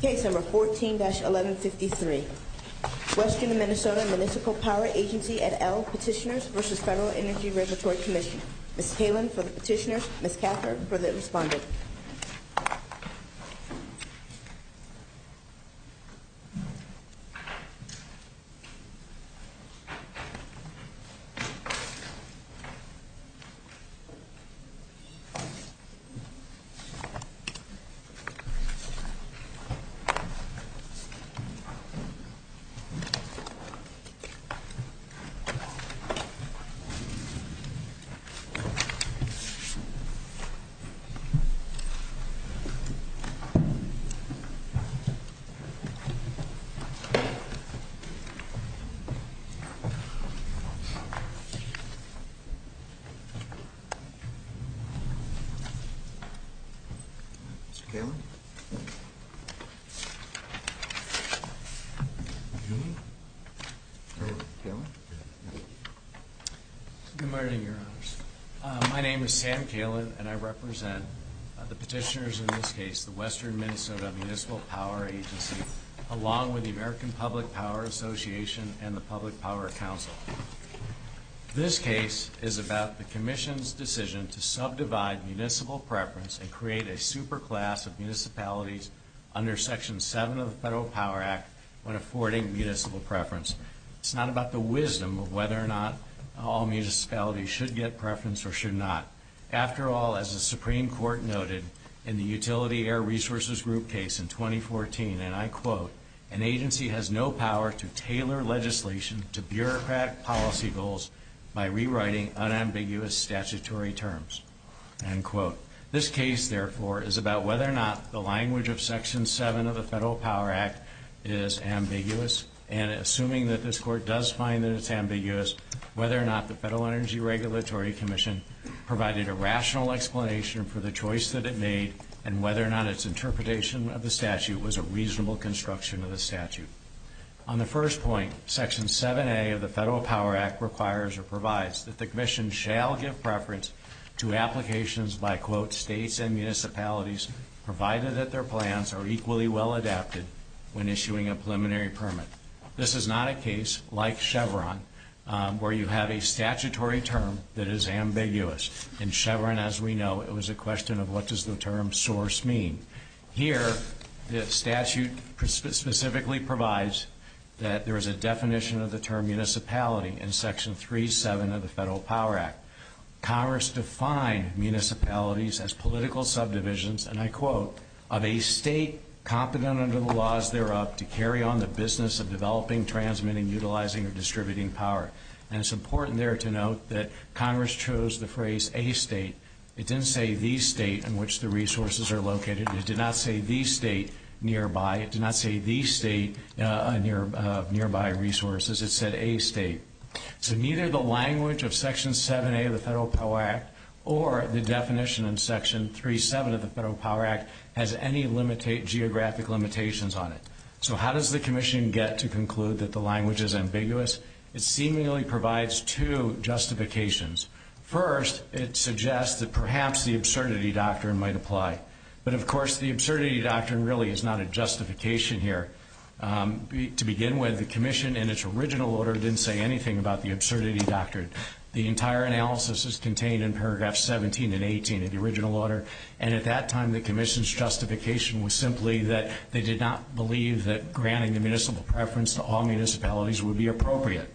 Case number 14-1153. Western Minnesota Municipal Power Agency et al. Petitioners v. Federal Energy Regulatory Commission. Ms. Kalin for the petitioners, Ms. Cather for the respondent. Petitioners v. Federal Energy Regulatory Commission. Mr. Kalin? Good morning, Your Honors. My name is Sam Kalin and I represent the petitioners in this case, the Western Minnesota Municipal Power Agency, along with the American Public Power Association and the Public Power Council. This case is about the Commission's decision to subdivide municipal preference and create a superclass of municipalities under Section 7 of the Federal Power Act when affording municipal preference. It's not about the wisdom of whether or not all municipalities should get preference or should not. After all, as the Supreme Court noted in the Utility Air Resources Group case in 2014, and I quote, an agency has no power to tailor legislation to bureaucratic policy goals by rewriting unambiguous statutory terms, end quote. This case, therefore, is about whether or not the language of Section 7 of the Federal Power Act is ambiguous, and assuming that this Court does find that it's ambiguous, whether or not the Federal Energy Regulatory Commission provided a rational explanation for the choice that it made and whether or not its interpretation of the statute was a reasonable construction of the statute. On the first point, Section 7A of the Federal Power Act requires or provides that the Commission shall give preference to applications by, quote, states and municipalities provided that their plans are equally well adapted when issuing a preliminary permit. This is not a case, like Chevron, where you have a statutory term that is ambiguous. In Chevron, as we know, it was a question of what does the term source mean. Here, the statute specifically provides that there is a definition of the term municipality in Section 3.7 of the Federal Power Act. Congress defined municipalities as political subdivisions, and I quote, of a state competent under the laws thereof to carry on the business of developing, transmitting, utilizing, or distributing power. And it's important there to note that Congress chose the phrase a state. It didn't say the state in which the resources are located, and it did not say the state nearby. It did not say the state nearby resources. It said a state. So neither the language of Section 7A of the Federal Power Act or the definition in Section 3.7 of the Federal Power Act has any geographic limitations on it. So how does the Commission get to conclude that the language is ambiguous? It seemingly provides two justifications. First, it suggests that perhaps the absurdity doctrine might apply. But, of course, the absurdity doctrine really is not a justification here. To begin with, the Commission, in its original order, didn't say anything about the absurdity doctrine. The entire analysis is contained in paragraphs 17 and 18 of the original order. And at that time, the Commission's justification was simply that they did not believe that granting the municipal preference to all municipalities would be appropriate.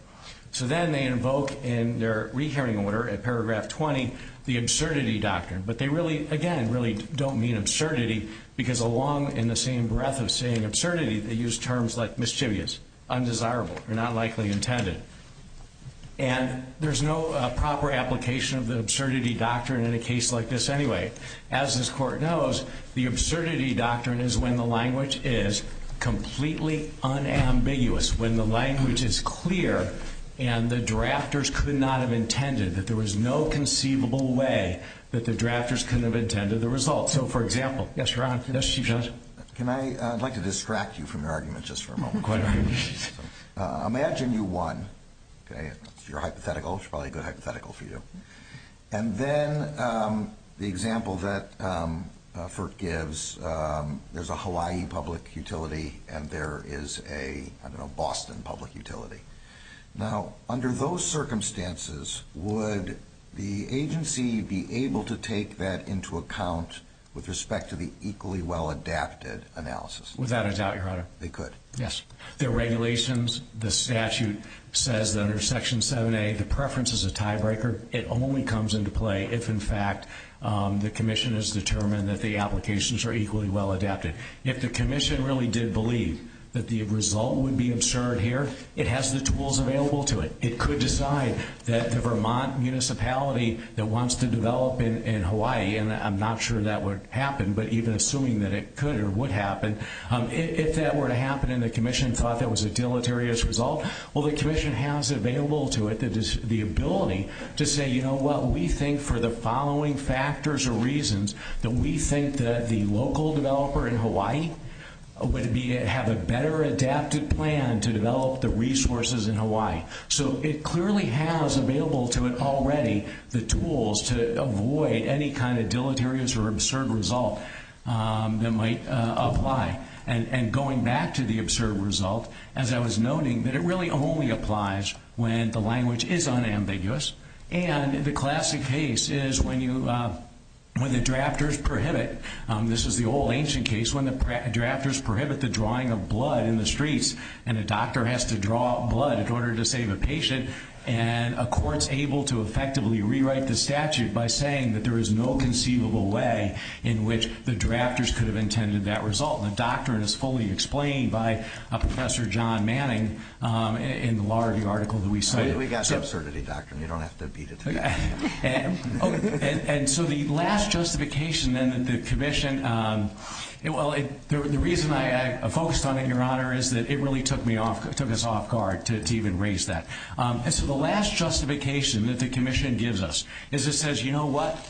So then they invoke, in their re-hearing order at paragraph 20, the absurdity doctrine. But they really, again, really don't mean absurdity, because along in the same breath of saying absurdity, they use terms like mischievous, undesirable, or not likely intended. And there's no proper application of the absurdity doctrine in a case like this anyway. As this Court knows, the absurdity doctrine is when the language is completely unambiguous. When the language is clear and the drafters could not have intended, that there was no conceivable way that the drafters could have intended the result. So, for example, yes, Your Honor. Yes, Chief Judge. Can I? I'd like to distract you from your argument just for a moment. Go ahead. Imagine you won. Okay? It's your hypothetical. It's probably a good hypothetical for you. And then the example that Firk gives, there's a Hawaii public utility and there is a, I don't know, Boston public utility. Now, under those circumstances, would the agency be able to take that into account with respect to the equally well-adapted analysis? Without a doubt, Your Honor. They could? Yes. The regulations, the statute says that under Section 7A, the preference is a tiebreaker. It only comes into play if, in fact, the commission has determined that the applications are equally well-adapted. If the commission really did believe that the result would be absurd here, it has the tools available to it. It could decide that the Vermont municipality that wants to develop in Hawaii, and I'm not sure that would happen, but even assuming that it could or would happen, if that were to happen and the commission thought that was a deleterious result, well, the commission has available to it the ability to say, you know what, we think for the following factors or reasons that we think that the local developer in Hawaii would have a better adapted plan to develop the resources in Hawaii. So it clearly has available to it already the tools to avoid any kind of deleterious or absurd result that might apply. And going back to the absurd result, as I was noting, that it really only applies when the language is unambiguous. And the classic case is when the drafters prohibit, this is the old ancient case, when the drafters prohibit the drawing of blood in the streets and a doctor has to draw blood in order to save a patient and a court's able to effectively rewrite the statute by saying that there is no conceivable way in which the drafters could have intended that result. The doctrine is fully explained by Professor John Manning in the law review article that we cited. We got the absurdity doctrine. And so the last justification that the commission, well, the reason I focused on it, Your Honor, is that it really took us off guard to even raise that. And so the last justification that the commission gives us is it says, you know what,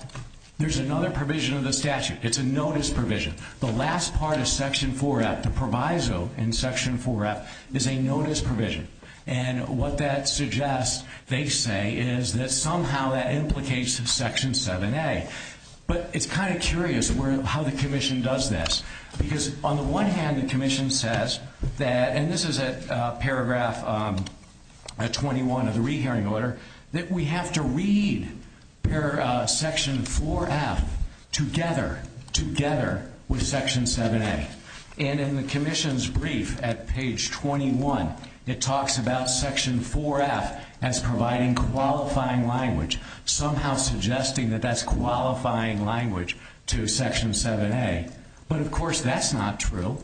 there's another provision of the statute. It's a notice provision. The last part of Section 4-F, the proviso in Section 4-F, is a notice provision. And what that suggests, they say, is that somehow that implicates Section 7-A. But it's kind of curious how the commission does this. Because on the one hand, the commission says that, and this is at paragraph 21 of the rehearing order, that we have to read Section 4-F together with Section 7-A. And in the commission's brief at page 21, it talks about Section 4-F as providing qualifying language, somehow suggesting that that's qualifying language to Section 7-A. But, of course, that's not true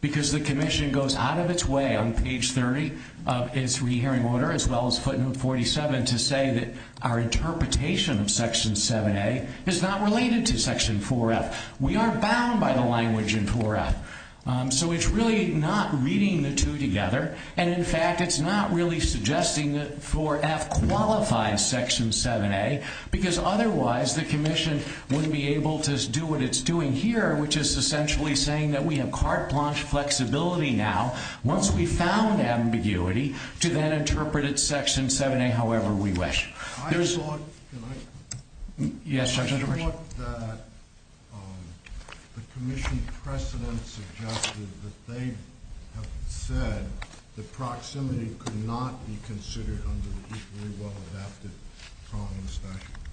because the commission goes out of its way on page 30 of its rehearing order, as well as footnote 47, to say that our interpretation of Section 7-A is not related to Section 4-F. We are bound by the language in 4-F. So it's really not reading the two together. And, in fact, it's not really suggesting that 4-F qualifies Section 7-A because otherwise the commission wouldn't be able to do what it's doing here, which is essentially saying that we have carte blanche flexibility now, once we've found ambiguity, to then interpret it Section 7-A however we wish. I thought that the commission precedent suggested that they have said that proximity could not be considered under the equally well-adapted prong and statute.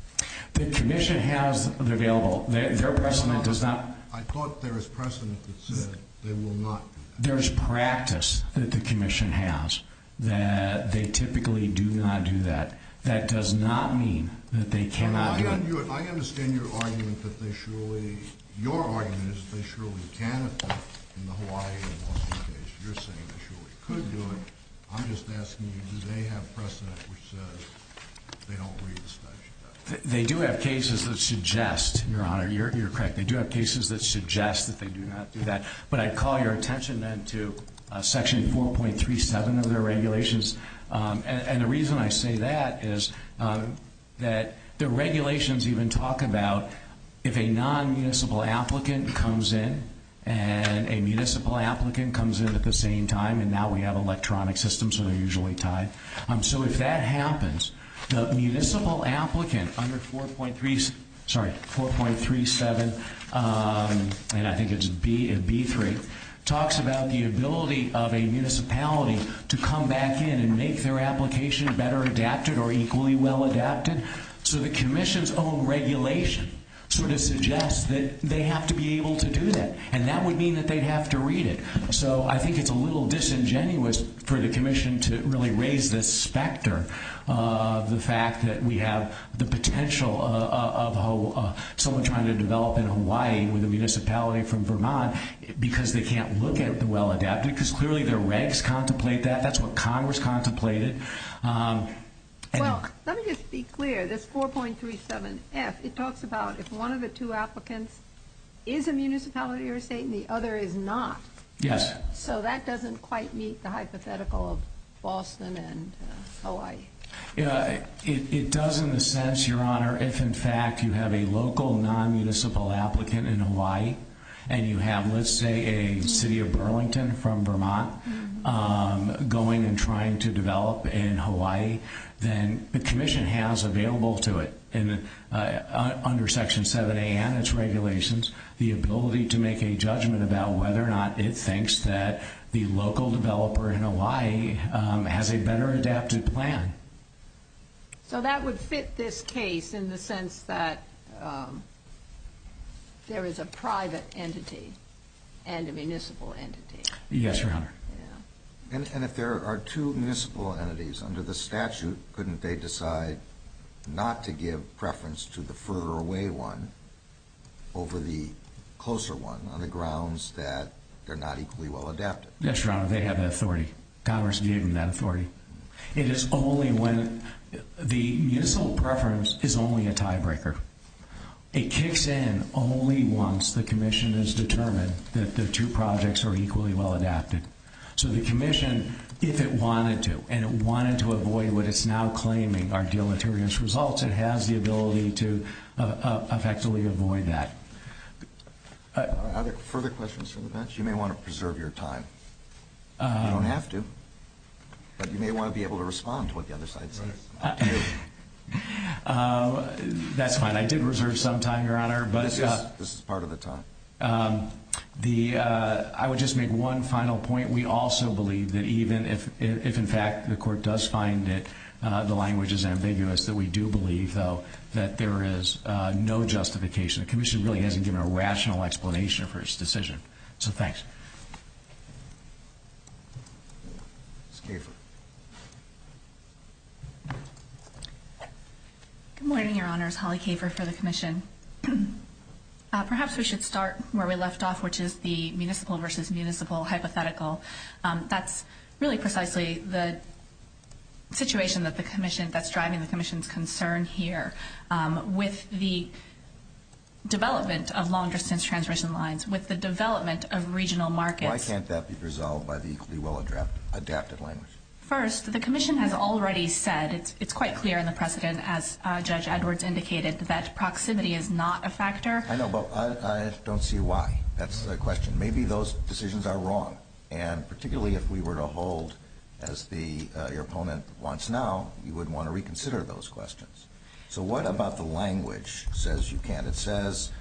The commission has it available. I thought there was precedent that said they will not do that. There is practice that the commission has that they typically do not do that. That does not mean that they cannot do it. I understand your argument that they surely – your argument is that they surely can if they're in the Hawaii and Washington case. You're saying they surely could do it. I'm just asking you, do they have precedent which says they don't read the statute? They do have cases that suggest, Your Honor, you're correct. They do have cases that suggest that they do not do that. But I'd call your attention then to Section 4.37 of their regulations. And the reason I say that is that the regulations even talk about if a non-municipal applicant comes in and a municipal applicant comes in at the same time, and now we have electronic systems, so they're usually tied. So if that happens, the municipal applicant under 4.37, and I think it's B3, talks about the ability of a municipality to come back in and make their application better adapted or equally well-adapted. So the commission's own regulation sort of suggests that they have to be able to do that. And that would mean that they'd have to read it. So I think it's a little disingenuous for the commission to really raise this specter of the fact that we have the potential of someone trying to develop in Hawaii with a municipality from Vermont because they can't look at the well-adapted, because clearly their regs contemplate that. That's what Congress contemplated. Well, let me just be clear. This 4.37F, it talks about if one of the two applicants is a municipality or a state and the other is not. Yes. So that doesn't quite meet the hypothetical of Boston and Hawaii. It does in the sense, Your Honor, if, in fact, you have a local non-municipal applicant in Hawaii and you have, let's say, a city of Burlington from Vermont going and trying to develop in Hawaii, then the commission has available to it under Section 7A and its regulations the ability to make a judgment about whether or not it thinks that the local developer in Hawaii has a better adapted plan. So that would fit this case in the sense that there is a private entity and a municipal entity. Yes, Your Honor. And if there are two municipal entities under the statute, couldn't they decide not to give preference to the further away one over the closer one on the grounds that they're not equally well adapted? Yes, Your Honor. They have that authority. Congress gave them that authority. It is only when the municipal preference is only a tiebreaker. It kicks in only once the commission has determined that the two projects are equally well adapted. So the commission, if it wanted to, and it wanted to avoid what it's now claiming are deleterious results, it has the ability to effectively avoid that. Are there further questions from the bench? You may want to preserve your time. You don't have to, but you may want to be able to respond to what the other side says. That's fine. I did reserve some time, Your Honor. This is part of the time. I would just make one final point. We also believe that even if, in fact, the court does find that the language is ambiguous, that we do believe, though, that there is no justification. The commission really hasn't given a rational explanation for its decision. So thanks. Ms. Kafer. Good morning, Your Honors. Holly Kafer for the commission. Perhaps we should start where we left off, which is the municipal versus municipal hypothetical. That's really precisely the situation that's driving the commission's concern here. With the development of long-distance transmission lines, with the development of regional markets. Why can't that be resolved by the equally well-adapted language? First, the commission has already said, it's quite clear in the precedent, as Judge Edwards indicated, that proximity is not a factor. I know, but I don't see why. That's the question. Maybe those decisions are wrong. And particularly if we were to hold as your opponent wants now, you would want to reconsider those questions. So what about the language that says you can't? It says,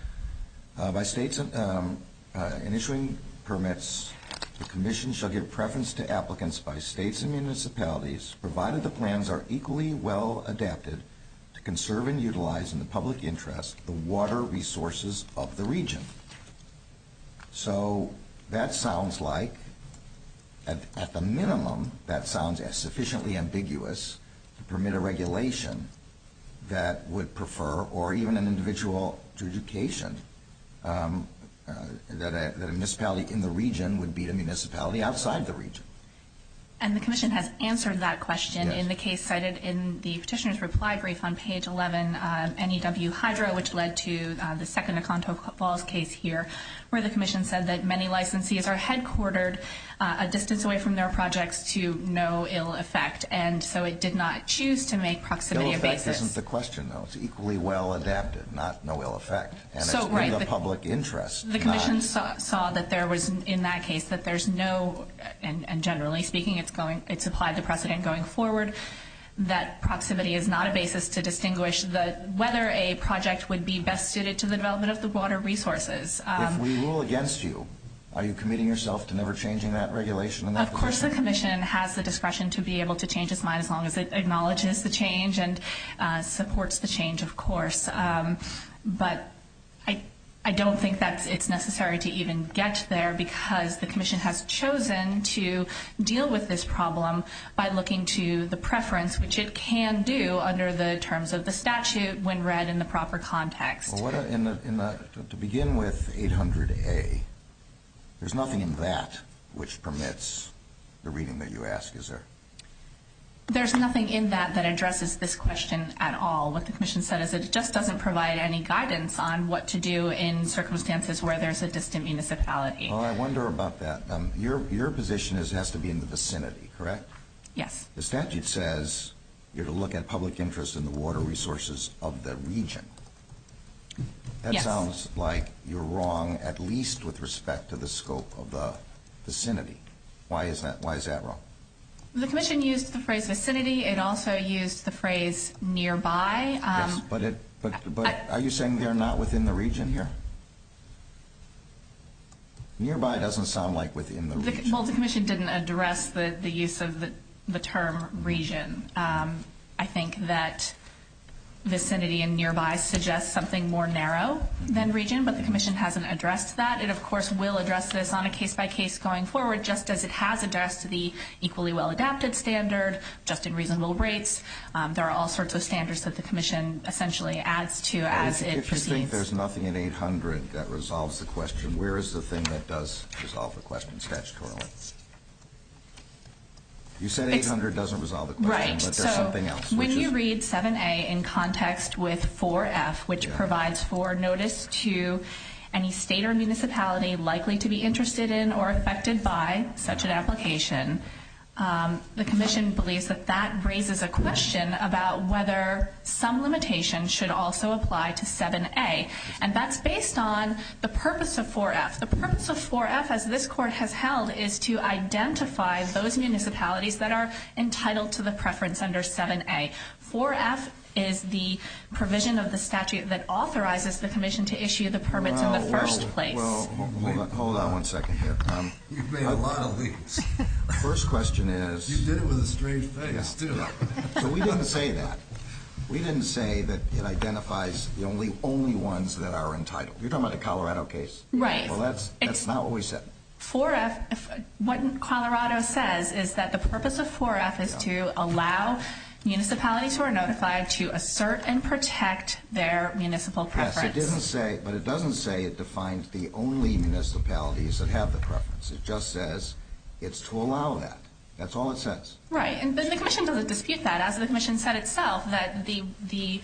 in issuing permits, the commission shall give preference to applicants by states and municipalities, provided the plans are equally well-adapted to conserve and utilize in the public interest the water resources of the region. So that sounds like, at the minimum, that sounds sufficiently ambiguous to permit a regulation that would prefer, or even an individual to education, that a municipality in the region would beat a municipality outside the region. And the commission has answered that question in the case cited in the petitioner's reply brief on page 11, NEW Hydro, which led to the second Oconto Falls case here, where the commission said that many licensees are headquartered a distance away from their projects to no ill effect, and so it did not choose to make proximity a basis. No effect isn't the question, though. It's equally well-adapted, not no ill effect. And it's in the public interest. The commission saw that there was, in that case, that there's no, and generally speaking, it's applied the precedent going forward, that proximity is not a basis to distinguish whether a project would be best suited to the development of the water resources. If we rule against you, are you committing yourself to never changing that regulation? Of course the commission has the discretion to be able to change its mind as long as it acknowledges the change and supports the change, of course. But I don't think that it's necessary to even get there, because the commission has chosen to deal with this problem by looking to the preference, which it can do under the terms of the statute when read in the proper context. To begin with 800A, there's nothing in that which permits the reading that you ask, is there? There's nothing in that that addresses this question at all. What the commission said is it just doesn't provide any guidance on what to do in circumstances where there's a distant municipality. Well, I wonder about that. Your position is it has to be in the vicinity, correct? Yes. The statute says you're to look at public interest in the water resources of the region. That sounds like you're wrong at least with respect to the scope of the vicinity. Why is that wrong? The commission used the phrase vicinity. It also used the phrase nearby. Yes, but are you saying they're not within the region here? Nearby doesn't sound like within the region. Well, the commission didn't address the use of the term region. I think that vicinity and nearby suggest something more narrow than region, but the commission hasn't addressed that. The statute provided, of course, will address this on a case-by-case going forward, just as it has addressed the equally well-adapted standard, just in reasonable rates. There are all sorts of standards that the commission essentially adds to as it proceeds. If you think there's nothing in 800 that resolves the question, where is the thing that does resolve the question statutorily? You said 800 doesn't resolve the question, but there's something else. When you read 7A in context with 4F, which provides for notice to any state or municipality likely to be interested in or affected by such an application, the commission believes that that raises a question about whether some limitation should also apply to 7A, and that's based on the purpose of 4F. The purpose of 4F, as this court has held, is to identify those municipalities that are entitled to the preference under 7A. 4F is the provision of the statute that authorizes the commission to issue the permits in the first place. Hold on one second here. You've made a lot of leaps. The first question is... You did it with a strange face, too. So we didn't say that. We didn't say that it identifies the only ones that are entitled. You're talking about the Colorado case. Right. Well, that's not what we said. 4F, what Colorado says is that the purpose of 4F is to allow municipalities who are notified to assert and protect their municipal preference. Yes, but it doesn't say it defines the only municipalities that have the preference. It just says it's to allow that. That's all it says. Right. But the commission doesn't dispute that. As the commission said itself, that the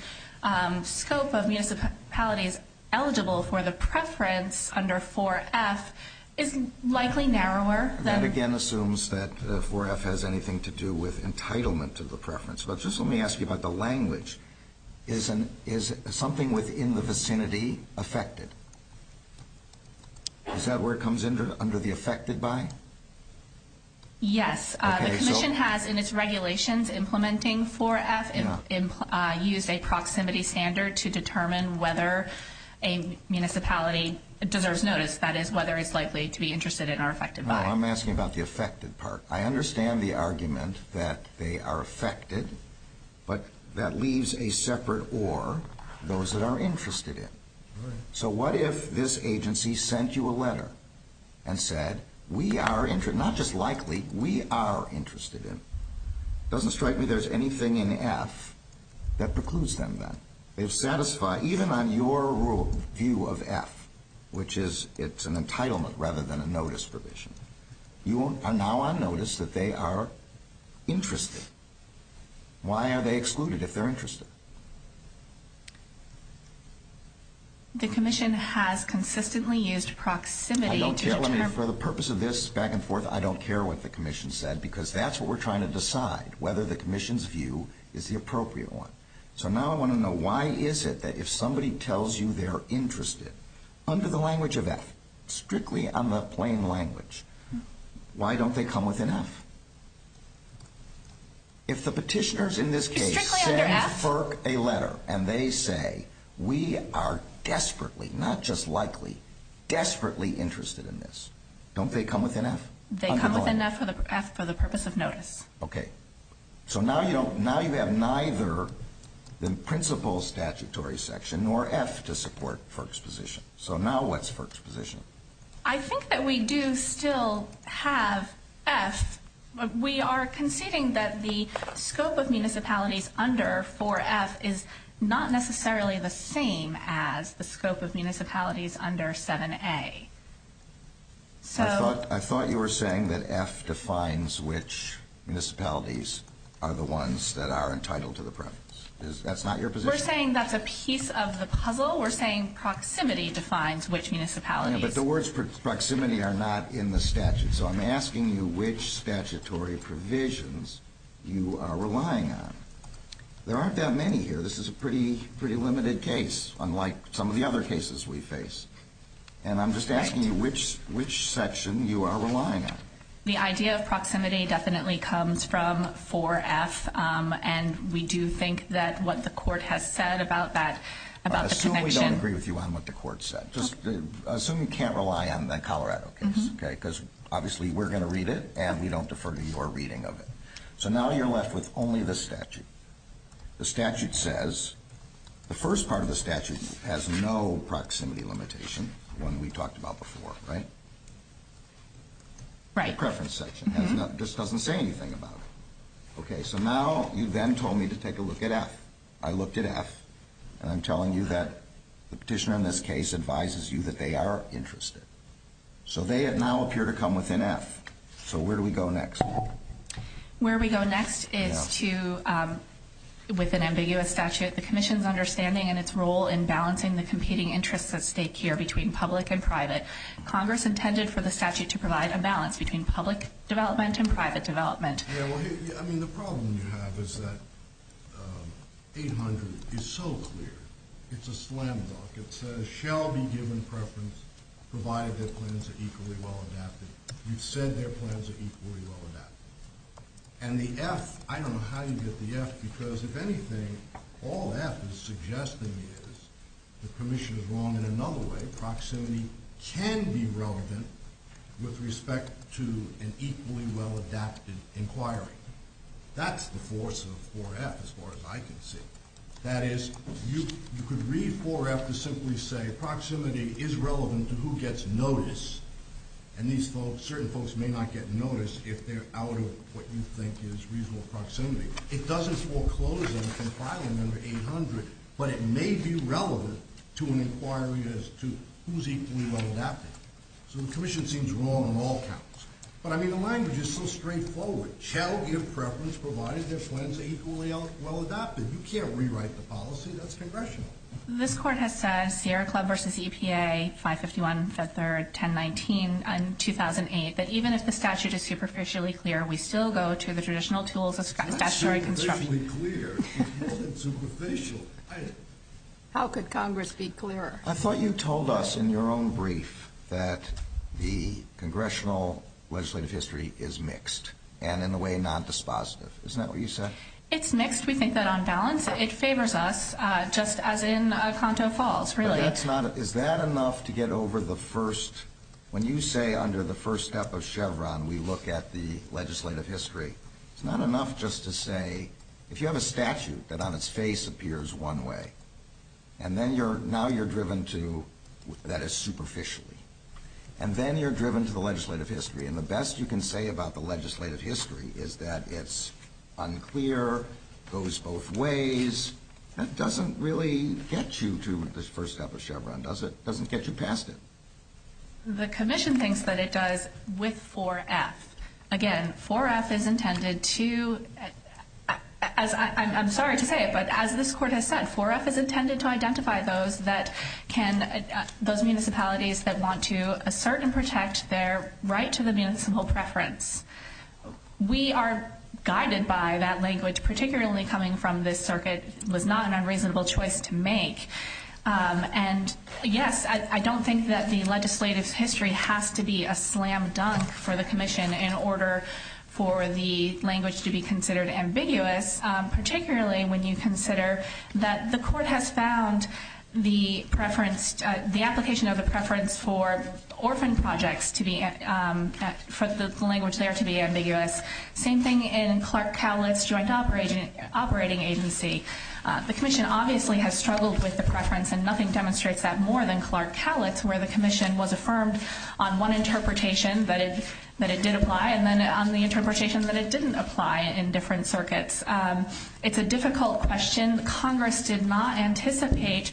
scope of municipalities eligible for the preference under 4F is likely narrower than... That, again, assumes that 4F has anything to do with entitlement to the preference. But just let me ask you about the language. Is something within the vicinity affected? Is that where it comes under the affected by? Yes. The commission has, in its regulations implementing 4F, used a proximity standard to determine whether a municipality deserves notice, that is, whether it's likely to be interested in or affected by. No, I'm asking about the affected part. I understand the argument that they are affected, but that leaves a separate or, those that are interested in. Right. So what if this agency sent you a letter and said, we are interested, not just likely, we are interested in. It doesn't strike me there's anything in F that precludes them then. They've satisfied, even on your view of F, which is it's an entitlement rather than a notice provision, you are now on notice that they are interested. Why are they excluded if they're interested? The commission has consistently used proximity to determine... I don't care. For the purpose of this back and forth, I don't care what the commission said, because that's what we're trying to decide, whether the commission's view is the appropriate one. So now I want to know, why is it that if somebody tells you they're interested, under the language of F, strictly on the plain language, why don't they come with an F? If the petitioners in this case send FERC a letter and they say, we are desperately, not just likely, desperately interested in this, don't they come with an F? They come with an F for the purpose of notice. Okay. So now you have neither the principal statutory section nor F to support FERC's position. So now what's FERC's position? I think that we do still have F. We are conceding that the scope of municipalities under 4F is not necessarily the same as the scope of municipalities under 7A. I thought you were saying that F defines which municipalities are the ones that are entitled to the province. That's not your position? We're saying that's a piece of the puzzle. We're saying proximity defines which municipalities. But the words proximity are not in the statute. So I'm asking you which statutory provisions you are relying on. There aren't that many here. This is a pretty limited case, unlike some of the other cases we face. And I'm just asking you which section you are relying on. The idea of proximity definitely comes from 4F. And we do think that what the court has said about that, about the connection. Assume we don't agree with you on what the court said. Assume you can't rely on the Colorado case, because obviously we're going to read it and we don't defer to your reading of it. So now you're left with only the statute. The statute says the first part of the statute has no proximity limitation, the one we talked about before, right? Right. The preference section just doesn't say anything about it. Okay, so now you then told me to take a look at F. I looked at F, and I'm telling you that the petitioner in this case advises you that they are interested. So they now appear to come within F. So where do we go next? Where we go next is to, with an ambiguous statute, the commission's understanding and its role in balancing the competing interests at stake here between public and private. Congress intended for the statute to provide a balance between public development and private development. Yeah, well, I mean, the problem you have is that 800 is so clear. It's a slam dunk. It says, shall be given preference provided their plans are equally well adapted. You've said their plans are equally well adapted. And the F, I don't know how you get the F, because if anything, all F is suggesting is the commission is wrong in another way. The proximity can be relevant with respect to an equally well adapted inquiry. That's the force of 4F, as far as I can see. That is, you could read 4F to simply say proximity is relevant to who gets notice. And these folks, certain folks may not get notice if they're out of what you think is reasonable proximity. It doesn't foreclose on the compiling number 800, but it may be relevant to an inquiry as to who's equally well adapted. So the commission seems wrong on all counts. But, I mean, the language is so straightforward. Shall give preference provided their plans are equally well adapted. You can't rewrite the policy. That's congressional. This court has said, Sierra Club versus EPA, 551, the third, 1019, 2008, that even if the statute is superficially clear, we still go to the traditional tools of statutory construction. It's not superficially clear. It's more than superficial. How could Congress be clearer? I thought you told us in your own brief that the congressional legislative history is mixed and in a way nondispositive. Isn't that what you said? It's mixed. We think that on balance. It favors us, just as in Oconto Falls, really. Is that enough to get over the first, when you say under the first step of Chevron, we look at the legislative history. It's not enough just to say, if you have a statute that on its face appears one way, and now you're driven to that is superficially. And then you're driven to the legislative history. And the best you can say about the legislative history is that it's unclear, goes both ways. That doesn't really get you to the first step of Chevron, does it? It doesn't get you past it. The commission thinks that it does with 4F. Again, 4F is intended to, I'm sorry to say it, but as this court has said, 4F is intended to identify those municipalities that want to assert and protect their right to the municipal preference. We are guided by that language, particularly coming from this circuit. It was not an unreasonable choice to make. And, yes, I don't think that the legislative history has to be a slam dunk for the commission in order for the language to be considered ambiguous, particularly when you consider that the court has found the preference, the application of the preference for orphan projects to be, for the language there to be ambiguous. Same thing in Clark Cowlitz Joint Operating Agency. The commission obviously has struggled with the preference, and nothing demonstrates that more than Clark Cowlitz, where the commission was affirmed on one interpretation that it did apply and then on the interpretation that it didn't apply in different circuits. It's a difficult question. Congress did not anticipate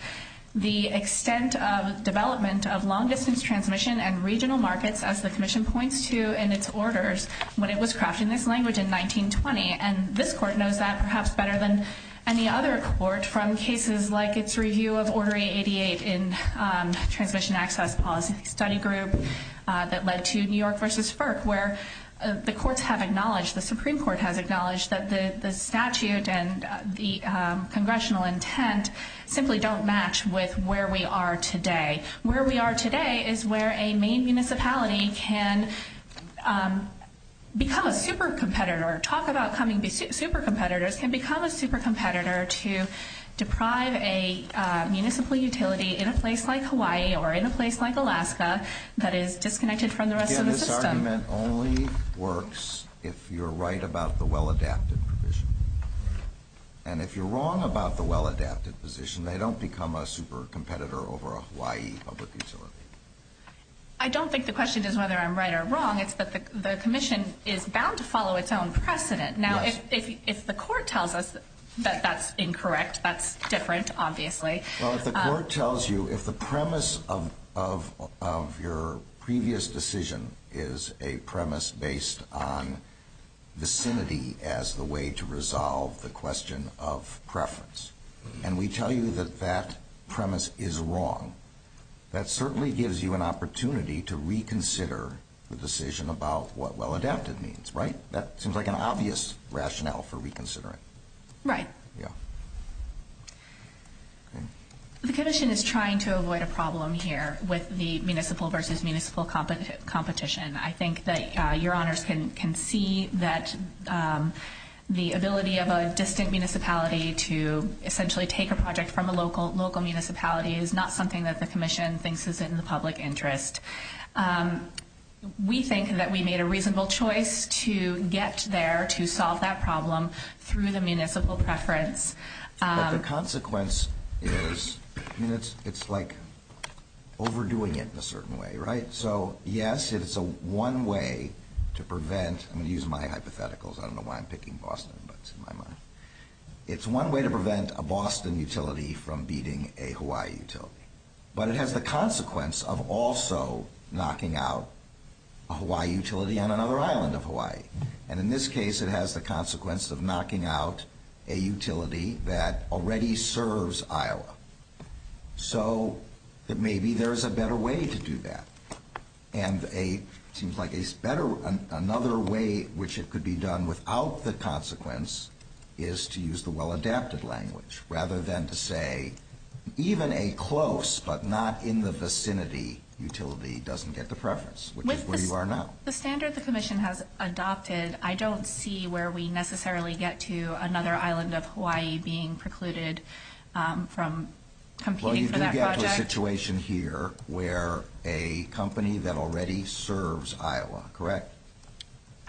the extent of development of long-distance transmission and regional markets, as the commission points to in its orders, when it was crafting this language in 1920. And this court knows that perhaps better than any other court from cases like its review of Order 888 in Transmission Access Policy Study Group that led to New York v. FERC, where the courts have acknowledged, the Supreme Court has acknowledged, that the statute and the congressional intent simply don't match with where we are today. Where we are today is where a main municipality can become a super-competitor, talk about becoming super-competitors, can become a super-competitor to deprive a municipal utility in a place like Hawaii or in a place like Alaska that is disconnected from the rest of the system. Again, this argument only works if you're right about the well-adapted provision. And if you're wrong about the well-adapted position, they don't become a super-competitor over a Hawaii public utility. I don't think the question is whether I'm right or wrong. It's that the commission is bound to follow its own precedent. Now, if the court tells us that that's incorrect, that's different, obviously. Well, if the court tells you, if the premise of your previous decision is a premise based on vicinity as the way to resolve the question of preference, and we tell you that that premise is wrong, that certainly gives you an opportunity to reconsider the decision about what well-adapted means, right? That seems like an obvious rationale for reconsidering. Right. Yeah. The commission is trying to avoid a problem here with the municipal versus municipal competition. I think that your honors can see that the ability of a distant municipality to essentially take a project from a local municipality is not something that the commission thinks is in the public interest. We think that we made a reasonable choice to get there to solve that problem through the municipal preference. But the consequence is, it's like overdoing it in a certain way, right? So, yes, it's one way to prevent, I'm going to use my hypotheticals, I don't know why I'm picking Boston, but it's in my mind. It's one way to prevent a Boston utility from beating a Hawaii utility. But it has the consequence of also knocking out a Hawaii utility on another island of Hawaii. And in this case, it has the consequence of knocking out a utility that already serves Iowa. So, maybe there's a better way to do that. And another way which it could be done without the consequence is to use the well-adapted language, rather than to say, even a close but not in the vicinity utility doesn't get the preference, which is where you are now. The standard the commission has adopted, I don't see where we necessarily get to another island of Hawaii being precluded from competing for that project. Well, you do get to a situation here where a company that already serves Iowa, correct?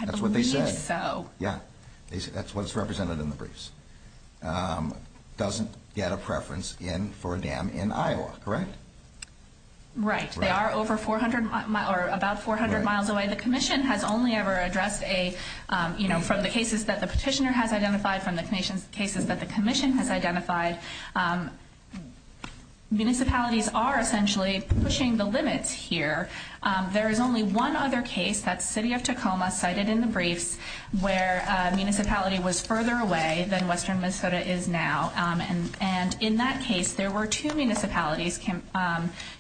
That's what they said. Yeah, that's what's represented in the briefs. Doesn't get a preference for a dam in Iowa, correct? Right. They are about 400 miles away. The commission has only ever addressed from the cases that the petitioner has identified, from the cases that the commission has identified. Municipalities are essentially pushing the limits here. There is only one other case, that's City of Tacoma, cited in the briefs, where a municipality was further away than western Minnesota is now. And in that case, there were two municipalities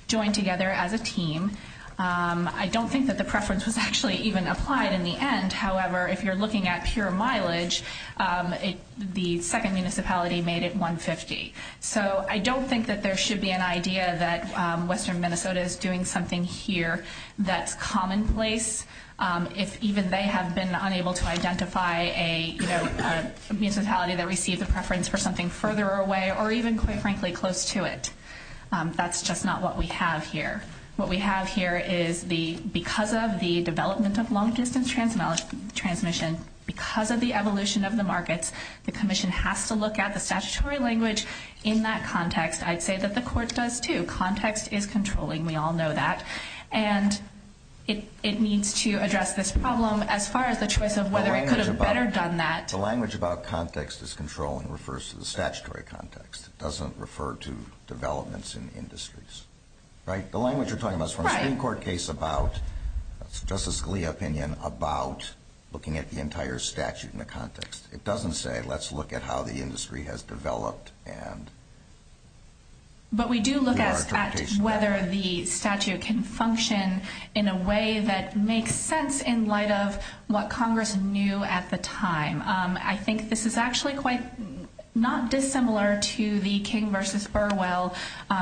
joined together as a team. I don't think that the preference was actually even applied in the end. However, if you're looking at pure mileage, the second municipality made it 150. So I don't think that there should be an idea that western Minnesota is doing something here that's commonplace. If even they have been unable to identify a municipality that received a preference for something further away or even, quite frankly, close to it. That's just not what we have here. What we have here is because of the development of long-distance transmission, because of the evolution of the markets, the commission has to look at the statutory language in that context. I'd say that the court does, too. Context is controlling. We all know that. And it needs to address this problem as far as the choice of whether it could have better done that. The language about context is controlling. It refers to the statutory context. It doesn't refer to developments in industries. Right? The language you're talking about is from a Supreme Court case about Justice Scalia's opinion about looking at the entire statute in the context. It doesn't say, let's look at how the industry has developed. But we do look at whether the statute can function in a way that makes sense in light of what Congress knew at the time. I think this is actually quite not dissimilar to the King v. Burwell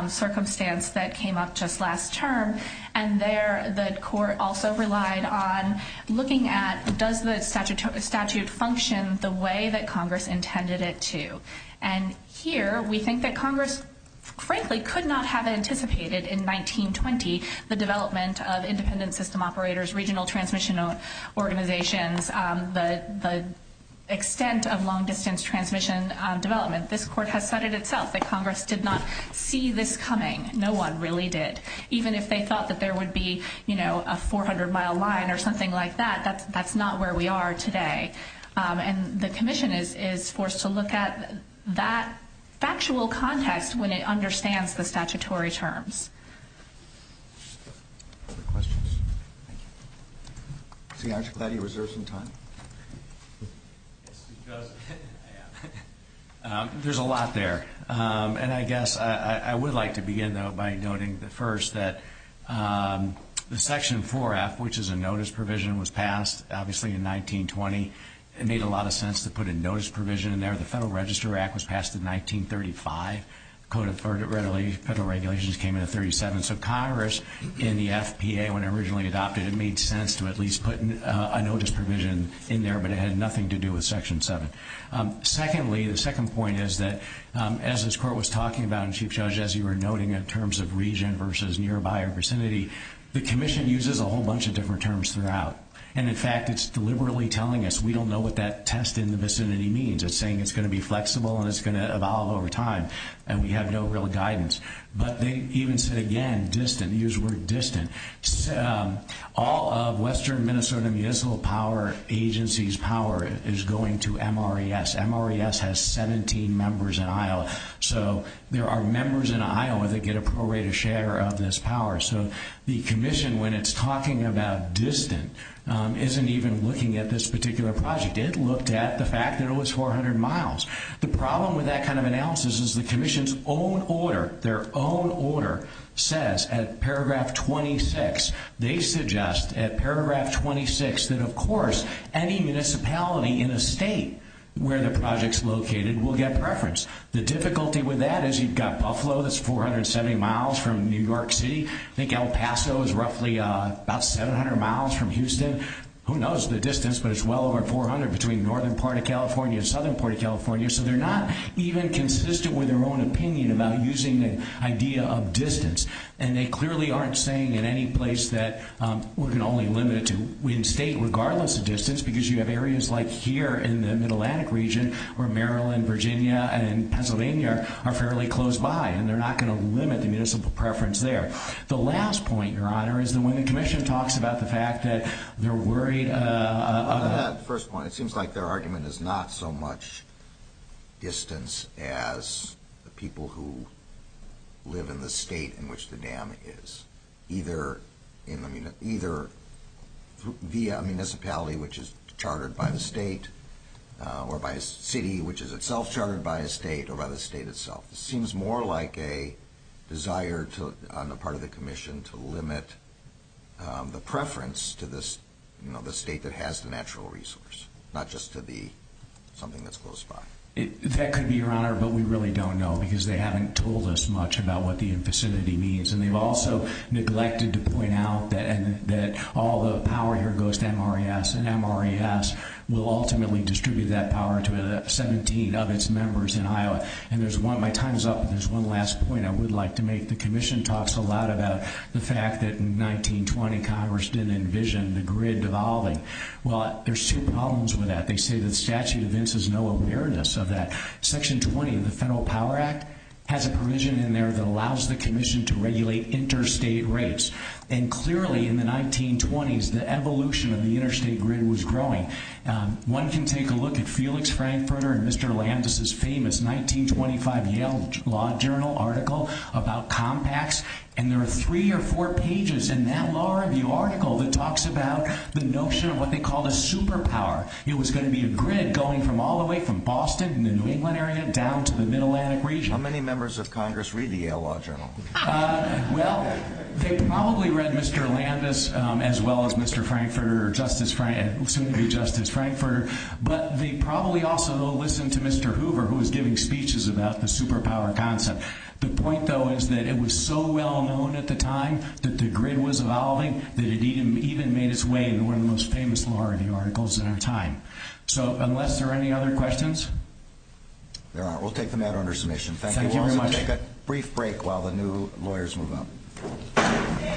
circumstance that came up just last term. And there the court also relied on looking at does the statute function the way that Congress intended it to? And here we think that Congress, frankly, could not have anticipated in 1920 the development of independent system operators, regional transmission organizations, the extent of long-distance transmission development. This court has said it itself that Congress did not see this coming. No one really did. Even if they thought that there would be, you know, a 400-mile line or something like that, that's not where we are today. And the commission is forced to look at that factual context when it understands the statutory terms. Other questions? Thank you. Senator Clady, reserve some time. Yes, because there's a lot there. And I guess I would like to begin, though, by noting, first, that the Section 4F, which is a notice provision, was passed, obviously, in 1920. It made a lot of sense to put a notice provision in there. The Federal Register Act was passed in 1935. Code of Federal Regulations came in in 1937. So Congress, in the FPA, when it originally adopted, it made sense to at least put a notice provision in there, but it had nothing to do with Section 7. Secondly, the second point is that, as this Court was talking about, and Chief Judge, as you were noting, in terms of region versus nearby or vicinity, the commission uses a whole bunch of different terms throughout. And, in fact, it's deliberately telling us we don't know what that test in the vicinity means. It's saying it's going to be flexible and it's going to evolve over time, and we have no real guidance. But they even said, again, distant, used the word distant. All of Western Minnesota Municipal Power Agency's power is going to MRES. MRES has 17 members in Iowa. So there are members in Iowa that get a prorated share of this power. So the commission, when it's talking about distant, isn't even looking at this particular project. It looked at the fact that it was 400 miles. The problem with that kind of analysis is the commission's own order, their own order, says at paragraph 26, they suggest at paragraph 26 that, of course, any municipality in a state where the project's located will get preference. The difficulty with that is you've got Buffalo that's 470 miles from New York City. I think El Paso is roughly about 700 miles from Houston. Who knows the distance, but it's well over 400 between northern part of California and southern part of California. So they're not even consistent with their own opinion about using the idea of distance. And they clearly aren't saying in any place that we're going to only limit it to one state, regardless of distance, because you have areas like here in the Mid-Atlantic region where Maryland, Virginia, and Pennsylvania are fairly close by, and they're not going to limit the municipal preference there. The last point, Your Honor, is that when the commission talks about the fact that they're worried about that. At that first point, it seems like their argument is not so much distance as the people who live in the state in which the dam is, either via a municipality, which is chartered by the state, or by a city, which is itself chartered by a state, or by the state itself. It seems more like a desire on the part of the commission to limit the preference to the state that has the natural resource, not just to the something that's close by. That could be, Your Honor, but we really don't know because they haven't told us much about what the infacinity means. And they've also neglected to point out that all the power here goes to MRES, and MRES will ultimately distribute that power to 17 of its members in Iowa. And my time is up, but there's one last point I would like to make. The commission talks a lot about the fact that in 1920, Congress didn't envision the grid devolving. Well, there's two problems with that. They say that statute of intents has no awareness of that. Section 20 of the Federal Power Act has a provision in there that allows the commission to regulate interstate rates. And clearly, in the 1920s, the evolution of the interstate grid was growing. One can take a look at Felix Frankfurter and Mr. Landis' famous 1925 Yale Law Journal article about compacts, and there are three or four pages in that law review article that talks about the notion of what they called a superpower. It was going to be a grid going from all the way from Boston in the New England area down to the Mid-Atlantic region. How many members of Congress read the Yale Law Journal? Well, they probably read Mr. Landis as well as Mr. Frankfurter or soon to be Justice Frankfurter, but they probably also listened to Mr. Hoover, who was giving speeches about the superpower concept. The point, though, is that it was so well known at the time that the grid was evolving that it even made its way in one of the most famous law review articles in our time. So unless there are any other questions? There aren't. We'll take them out under submission. Thank you very much. We'll also take a brief break while the new lawyers move up.